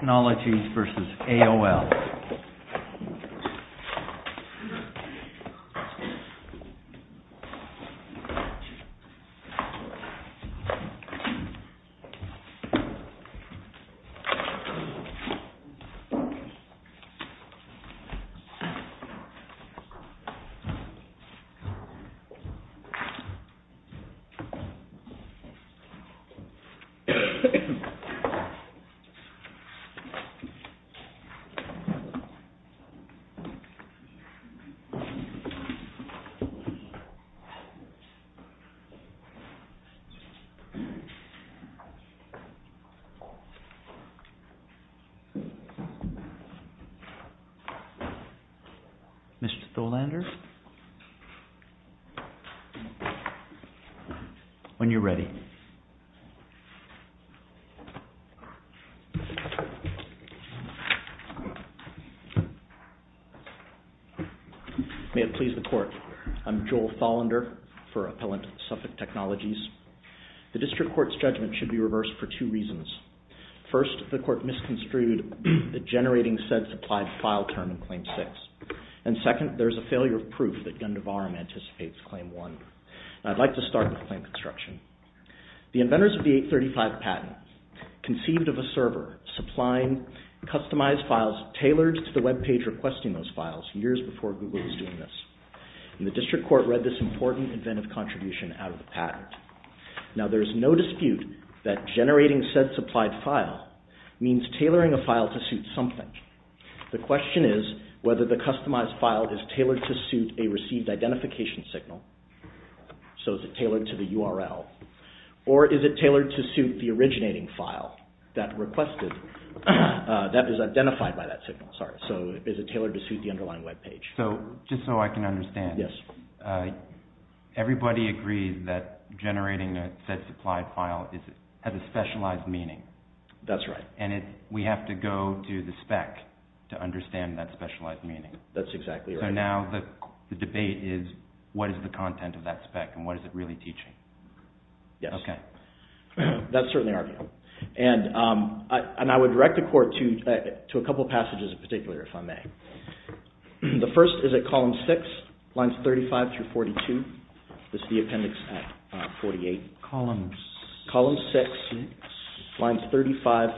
Technologies v. AOL Mr. Tholander, when you're ready. May it please the Court. I'm Joel Tholander for Appellant Suffolk Technologies. The District Court's judgment should be reversed for two reasons. First, the Court misconstrued the generating said supplied file term in Claim 6. And second, there is a failure of proof that Gundivaram anticipates Claim 1. I'd like to start with claim construction. The inventors of the 835 patent conceived of a server supplying customized files tailored to the web page requesting those files years before Google was doing this. And the District Court read this important inventive contribution out of the patent. Now there is no dispute that generating said supplied file means tailoring a file to suit something. The question is whether the customized file is tailored to suit a received identification signal, so is it tailored to suit the originating file that is identified by that signal? Is it tailored to suit the underlying web page? Just so I can understand, everybody agrees that generating a said supplied file has a specialized meaning. That's right. And we have to go to the spec to understand that specialized meaning. That's exactly right. So now the debate is what is the content of that spec and what is it really teaching? Yes. That's certainly our view. And I would direct the Court to a couple of passages in particular if I may. The first is at column 6, lines 35-42. This is the appendix at 48. Columns 6, lines 35-42.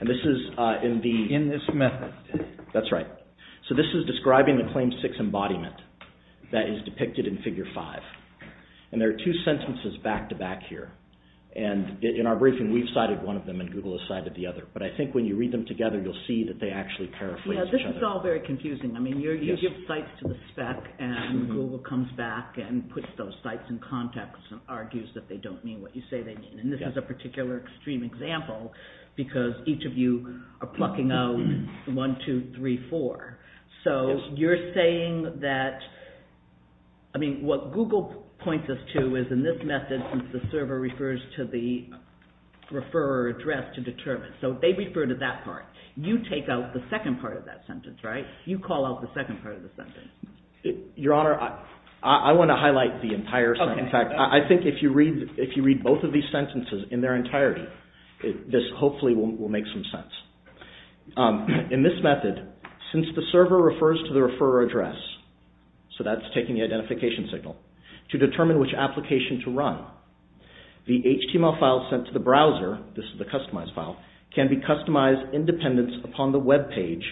And this is in this method. That's right. So this is describing the claim 6 embodiment that is depicted in figure 5. And there are two sentences back to back here. And in our briefing we've cited one of them and Google has cited the other. But I think when you read them together you'll see that they actually paraphrase each other. Yes, this is all very confusing. I mean you give sites to the spec and Google comes back and puts those sites in context and argues that they don't mean what you say they mean. And this is a particular extreme example because each of you are plucking out 1, 2, 3, 4. So you're saying that, I mean what Google points us to is in this method the server refers to the referrer address to determine. So they refer to that part. You take out the second part of that sentence, right? You call out the second part of the sentence. Your Honor, I want to highlight the entire sentence. In fact, I think if you read both of these sentences in their entirety this hopefully will make some sense. In this method, since the server refers to the referrer address, so that's taking the identification signal, to determine which application to run, the HTML file sent to the browser, this is the customized file, can be customized in dependence upon the web page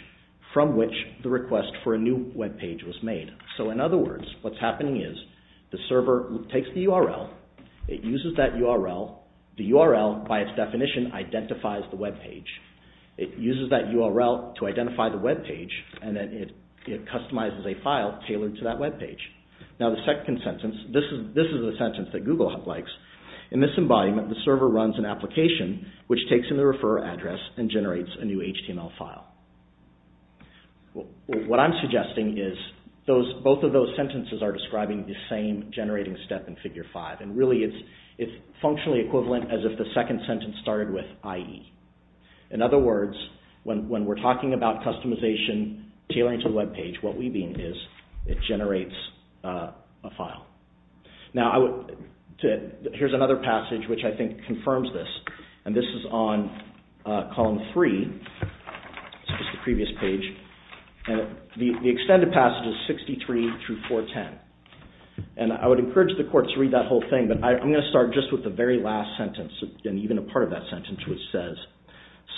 from which the request for a new web page was made. So in other words, what's happening is the server takes the URL, it uses that URL, the URL by its definition identifies the web page. It uses that URL to identify the web page and then it customizes a file tailored to that web page. Now the second sentence, this is a sentence that Google likes. In this embodiment the server runs an application which takes in the referrer address and generates a new HTML file. What I'm suggesting is both of those sentences are describing the same generating step in Figure 5 and really it's functionally equivalent as if the second sentence started with IE. In other words, when we're talking about customization, tailoring to the web page, what we mean is it generates a file. Now I would, here's another passage which I think confirms this and this is on Column 3, it's the previous page. The extended passage is 63 through 410 and I would encourage the courts to read that whole thing but I'm going to start just with the very last sentence and even a part of that sentence which says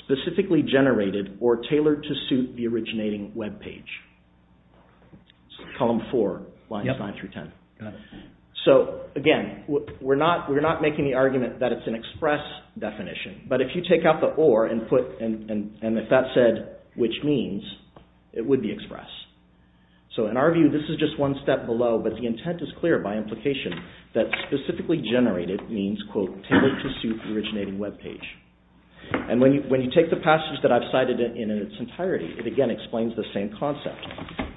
specifically generated or tailored to suit the originating web page. It's Column 4, lines 9 through 10. So again, we're not making the argument that it's an express definition but if you take out the or and if that said which means, it would be express. So in our view this is just one step below but the intent is clear by implication that specifically generated means tailored to suit the originating web page. And when you take the passage that I've cited in its entirety, it again explains the same concept.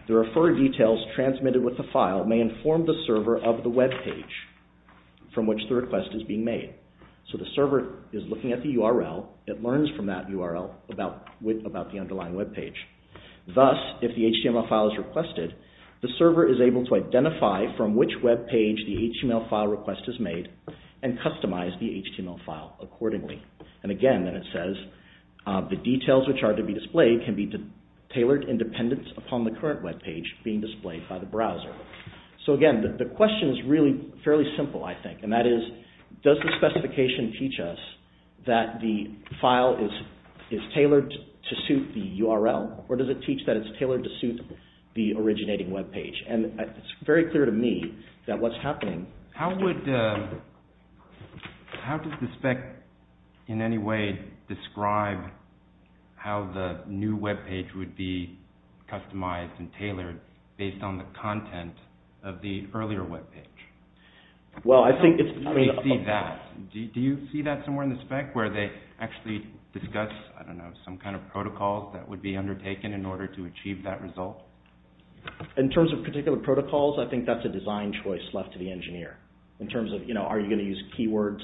The referrer details transmitted with the file may inform the server of the web page from which the request is being made. So the server is looking at the URL, it learns from that URL about the underlying web page. Thus, if the HTML file is requested, the server is able to identify from which web page the HTML file request is made and customize the HTML file accordingly. And again, then it says the details which are to be displayed can be tailored in dependence upon the current web page being displayed by the browser. So again, the question is really fairly simple I think and that is does the specification teach us that the file is tailored to suit the URL or does it teach that it's tailored to suit the originating web page? And it's very clear to me that what's happening... How would, how does the spec in any way describe how the new web page would be customized and tailored based on the content of the earlier web page? Well I think it's... Do you see that somewhere in the spec where they actually discuss, I don't know, some kind of protocol that would be undertaken in order to achieve that result? In terms of particular protocols, I think that's a design choice left to the engineer in terms of, you know, are you going to use keywords?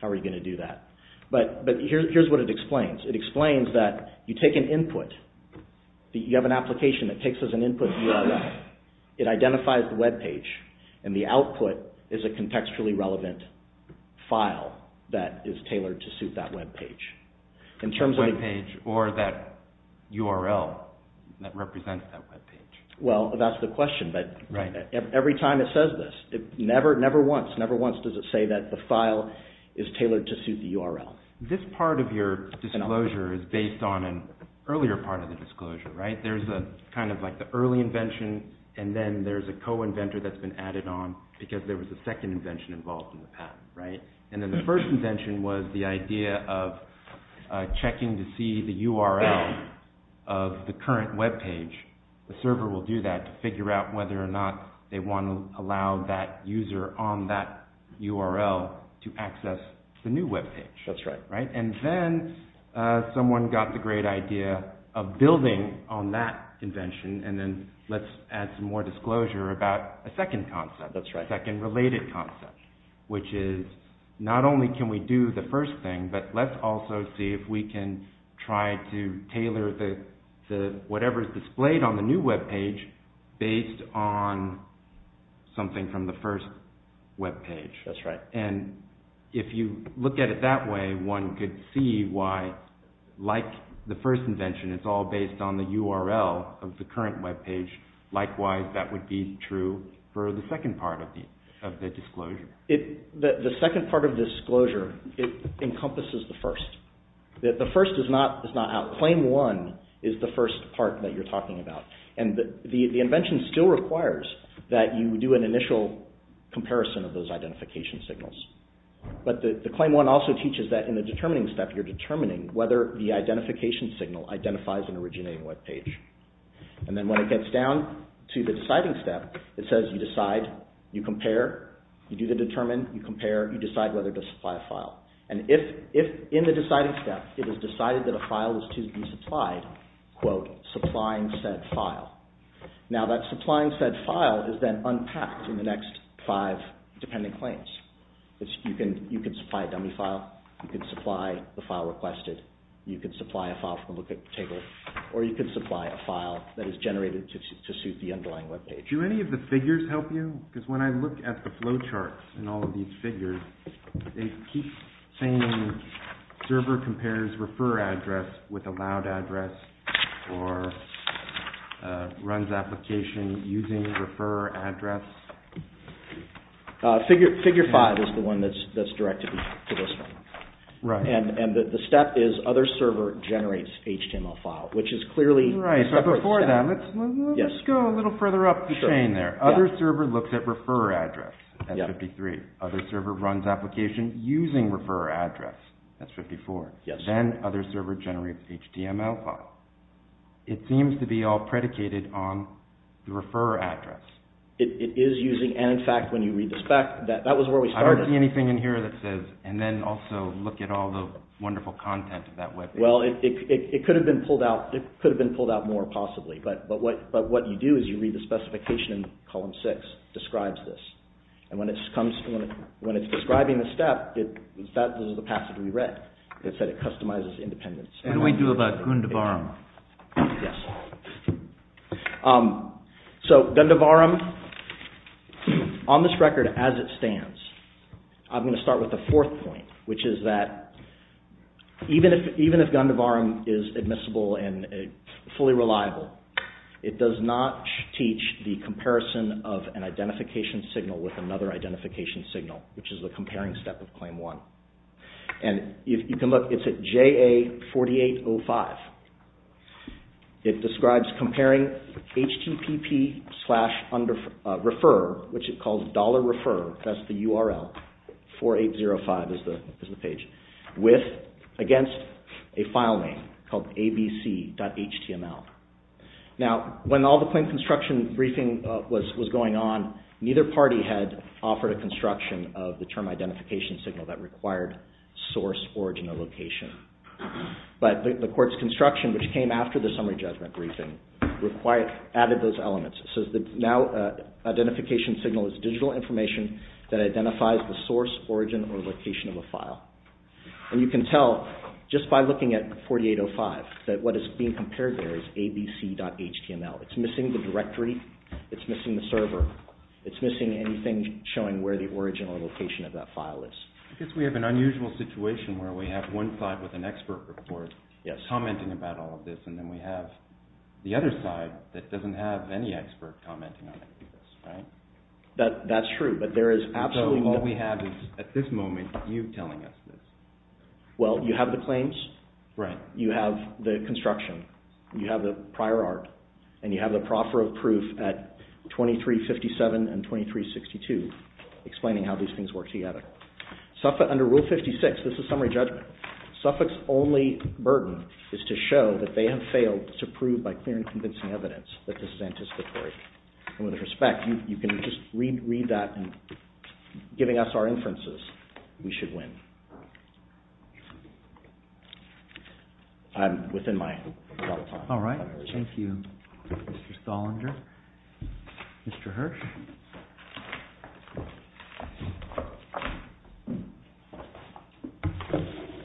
How are you going to do that? But here's what it explains. It explains that you take an input, you have an application that takes as an input a URL. It identifies the web page and the output is a contextually relevant file that is tailored to suit that web page. The web page or that URL that represents that web page. Well that's the question, but every time it says this, never once, never once does it say that the file is tailored to suit the URL. This part of your disclosure is based on an earlier part of the disclosure, right? There's a kind of like the early invention and then there's a co-inventor that's been added on because there was a second invention involved in the past, right? And then the first invention was the idea of checking to see the URL of the current web page. The server will do that to figure out whether or not they want to allow that user on that URL to access the new web page. That's right. And then someone got the great idea of building on that invention and then let's add some more disclosure about a second concept. That's right. A second related concept, which is not only can we do the first thing, but let's also see if we can try to tailor whatever is displayed on the new web page based on something from the first web page. That's right. And if you look at it that way, one could see why, like the first invention, it's all based on the URL of the current web page. Likewise, that would be true for the second part of the disclosure. The second part of the disclosure, it encompasses the first. The first is not out. Claim one is the first part that you're talking about. And the invention still requires that you do an initial comparison of those identification signals. But the claim one also teaches that in the determining step, you're determining whether the identification signal identifies an originating web page. And then when it gets down to the deciding step, it says you decide, you compare, you do the determine, you compare, you decide whether to supply a file. And if in the deciding step, it is decided that a file is to be supplied, quote, supplying said file. Now that supplying said file is then unpacked in the next five dependent claims. You can supply a dummy file, you can supply the file requested, you can supply a file from a look at table, or you can supply a file that is generated to suit the underlying web page. Do any of the figures help you? Because when I look at the flowchart and all of these figures, they keep saying server compares refer address with allowed address or runs application using refer address. Figure five is the one that's directed to this one. Right. And the step is other server generates HTML file, which is clearly... Right. So before that, let's go a little further up the chain there. Other server looks at refer address, that's 53. Other server runs application using refer address, that's 54. Yes. Then other server generates HTML file. It seems to be all predicated on the refer address. It is using, and in fact, when you read the spec, that was where we started. I don't see anything in here that says, and then also look at all the wonderful content of that web page. Well, it could have been pulled out more possibly, but what you do is you read the specification in column six, describes this. And when it's describing the step, that is the passage we read. It said it customizes independent... And we do about Gundavaram. Yes. So Gundavaram, on this record as it stands, I'm going to start with the fourth point, which is that even if Gundavaram is admissible and fully reliable, it does not teach the comparison of an identification signal with another identification signal, which is the comparing step of claim one. And you can look, it's at JA4805. It describes comparing HTTP slash refer, which it calls dollar refer, that's the URL, 4805 is the page, with, against a file name called abc.html. Now, when all the claim construction briefing was going on, neither party had offered a construction of the term identification signal that required source, origin, or location. But the court's construction, which came after the summary judgment briefing, added those elements. So now identification signal is digital information that identifies the source, origin, or location of a file. And you can tell just by looking at 4805, that what is being compared there is abc.html. It's missing the directory, it's missing the server, it's missing anything showing where the origin or location of that file is. I guess we have an unusual situation where we have one side with an expert report commenting about all of this, and then we have the other side that doesn't have any expert commenting on any of this, right? That's true, but there is absolutely no... So all we have is, at this moment, you telling us this. Well, you have the claims, you have the construction, you have the prior art, and you have the proffer of proof at 2357 and 2362, explaining how these things work together. Under Rule 56, this is summary judgment, Suffolk's only burden is to show that they have failed to prove by clear and convincing evidence that this is anticipatory. And with respect, you can just read that and, giving us our inferences, we should win. I'm within my... All right. Thank you, Mr. Thollinger. Mr. Hirsch.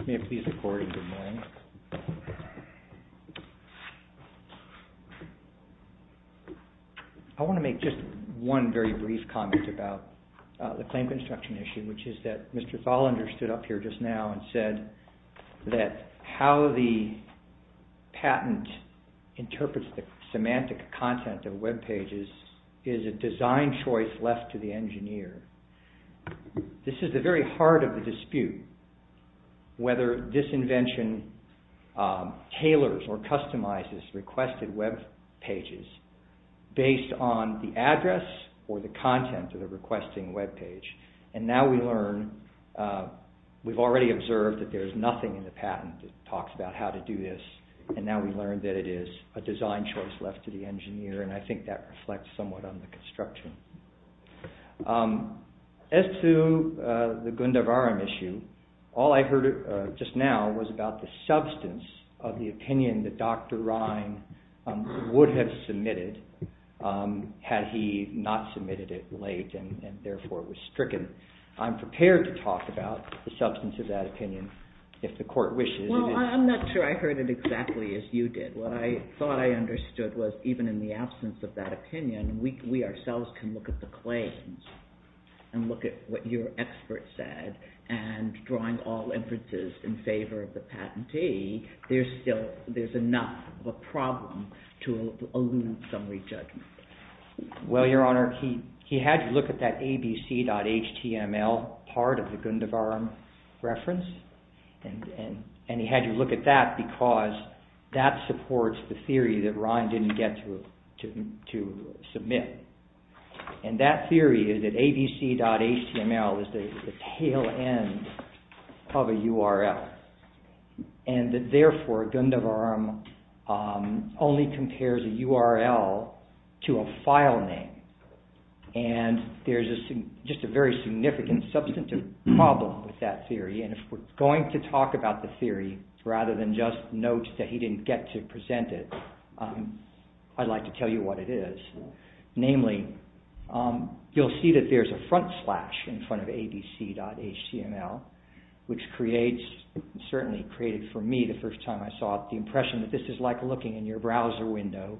May it please the Court, and good morning. I want to make just one very brief comment about the claim construction issue, which is that Mr. Thollinger stood up here just now and said that how the patent interprets the semantic content of webpages is a design choice left to the engineer. This is the very heart of the dispute, whether this invention tailors or customizes requested webpages based on the address or the content of the requesting webpage. And now we learn... We've already observed that there's nothing in the patent that talks about how to do this, and now we learn that it is a design choice left to the engineer, and I think that reflects somewhat on the construction. As to the Gundavaram issue, all I heard just now was about the substance of the opinion that Dr. Ryan would have submitted had he not submitted it late, and therefore was stricken. I'm prepared to talk about the substance of that opinion if the Court wishes. Well, I'm not sure I heard it exactly as you did. What I thought I understood was even in the absence of that opinion, we ourselves can look at the claims and look at what your expert said, and drawing all inferences in favor of the patentee, there's enough of a problem to elude some re-judgment. Well, Your Honor, he had you look at that abc.html part of the Gundavaram reference, and he had you look at that because that supports the theory that Ryan didn't get to submit. And that theory is that abc.html is the tail end of a URL, and that therefore Gundavaram only compares a URL to a file name. And there's just a very significant substantive problem with that theory, and if we're going to talk about the theory rather than just note that he didn't get to present it, I'd like to tell you what it is. Namely, you'll see that there's a front slash in front of abc.html, which creates, certainly created for me the first time I saw it, the impression that this is like looking in your browser window,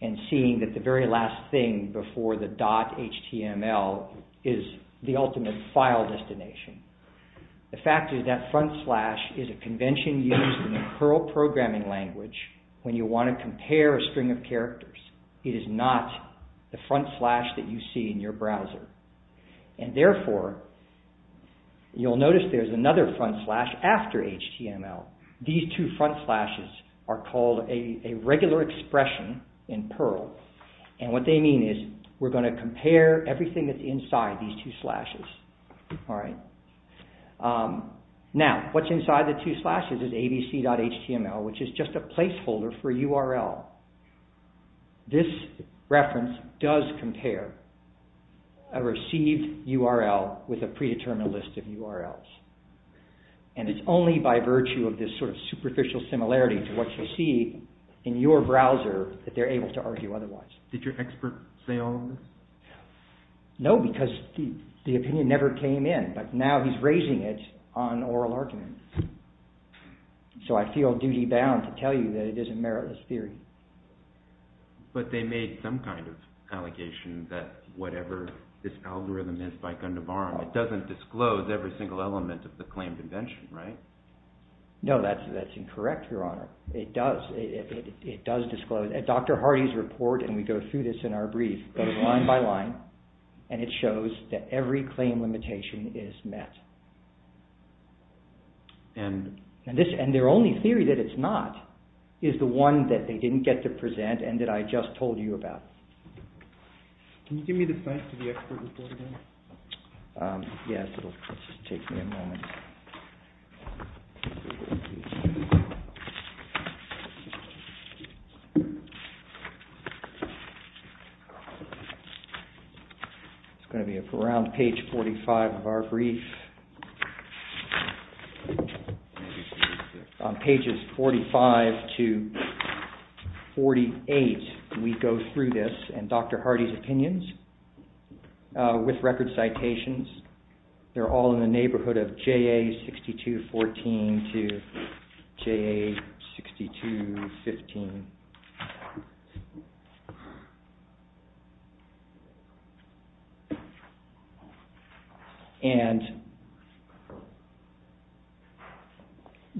and seeing that the very last thing before the .html is the ultimate file destination. The fact is that front slash is a convention used in the CURL programming language when you want to compare a string of characters. It is not the front slash that you see in your browser. And therefore, you'll notice there's another front slash after html. These two front slashes are called a regular expression in PURL, and what they mean is we're going to compare everything that's inside these two slashes. Now, what's inside the two slashes is abc.html, which is just a placeholder for URL. This reference does compare a received URL with a predetermined list of URLs. And it's only by virtue of this sort of superficial similarity to what you'll see in your browser that they're able to argue otherwise. Did your expert say all of this? No, because the opinion never came in, but now he's raising it on oral argument. So I feel duty-bound to tell you that it is a meritless theory. But they made some kind of allegation that whatever this algorithm is by Gundobara, it doesn't disclose every single element of the claim convention, right? No, that's incorrect, Your Honor. It does disclose. Dr. Hardy's report, and we go through this in our brief, goes line by line, and it shows that every claim limitation is met. And their only theory that it's not is the one that they didn't get to present and that I just told you about. Can you give me the site for the expert report again? Yes, it'll just take me a moment. It's going to be around page 45 of our brief. On pages 45 to 48, we go through this and Dr. Hardy's opinions with record citations, they're all in the neighborhood of J.A. 6214 to J.A. 6215.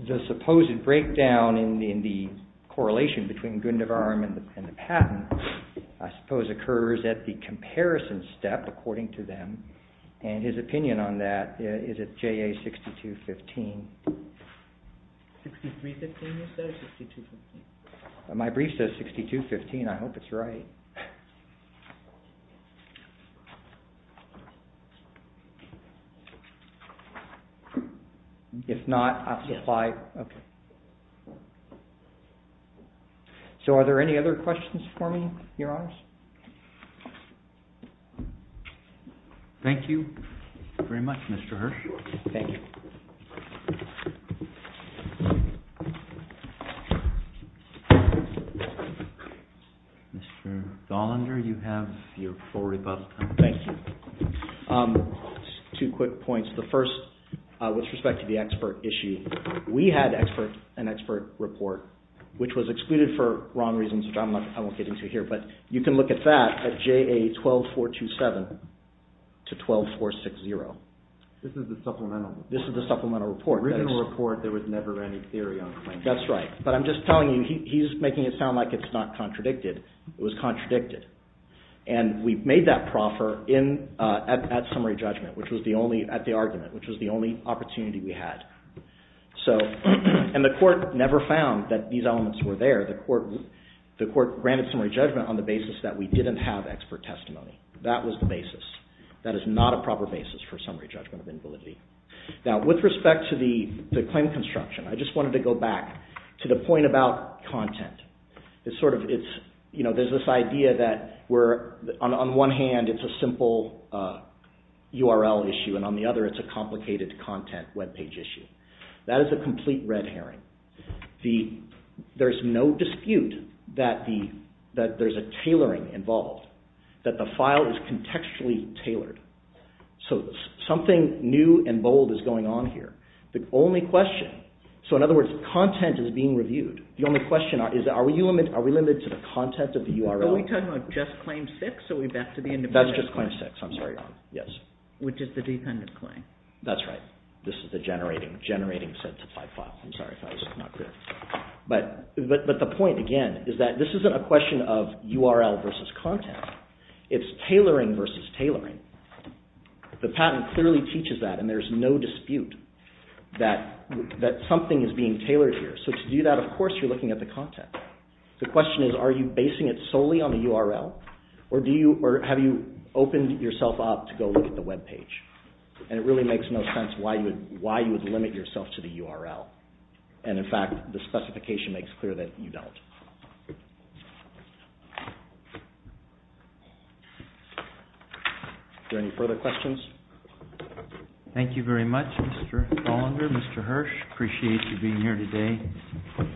The supposed breakdown in the correlation between Gundobaram and the patent, I suppose, occurs at the comparison step, according to them, and his opinion on that is at J.A. 6215. My brief says 6215, I hope it's right. If not, I'll just slide. So are there any other questions for me, Your Honors? Thank you very much, Mr. Hirsch. Mr. Gollander, you have your full rebuttal time. Thank you. Two quick points. The first, with respect to the expert issue, we had an expert report, which was excluded for wrong reasons, which I won't get into here, but you can look at that at J.A. 12427 to J.A. 12460. This is the supplemental report. The original report, there was never any theory on claimants. That's right, but I'm just telling you, he's making it sound like it's not contradicted. It was contradicted, and we've made that proffer at summary judgment, at the argument, which was the only opportunity we had. And the court never found that these elements were there. The court granted summary judgment on the basis that we didn't have expert testimony. That was the basis. That is not a proper basis for summary judgment of invalidity. Now, with respect to the claim construction, I just wanted to go back to the point about content. There's this idea that, on one hand, it's a simple URL issue, and on the other, it's a complicated content webpage issue. That is a complete red herring. There's no dispute that there's a tailoring involved, that the file is contextually tailored. So, something new and bold is going on here. The only question... So, in other words, content is being reviewed. The only question is, are we limited to the content of the URL? Are we talking about Just Claim 6, or are we back to the independent? That's Just Claim 6, I'm sorry. Which is the dependent claim. That's right. This is the generating set to five files. I'm sorry if I was not clear. But the point, again, is that this isn't a question of it's tailoring versus tailoring. The patent clearly teaches that, and there's no dispute that something is being tailored here. So, to do that, of course, you're looking at the content. The question is, are you basing it solely on the URL? Or have you opened yourself up to go look at the webpage? And it really makes no sense why you would limit yourself to the URL. And, in fact, the specification makes clear that you don't. Are there any further questions? Thank you very much, Mr. Hollander, Mr. Hirsch. I appreciate you being here today.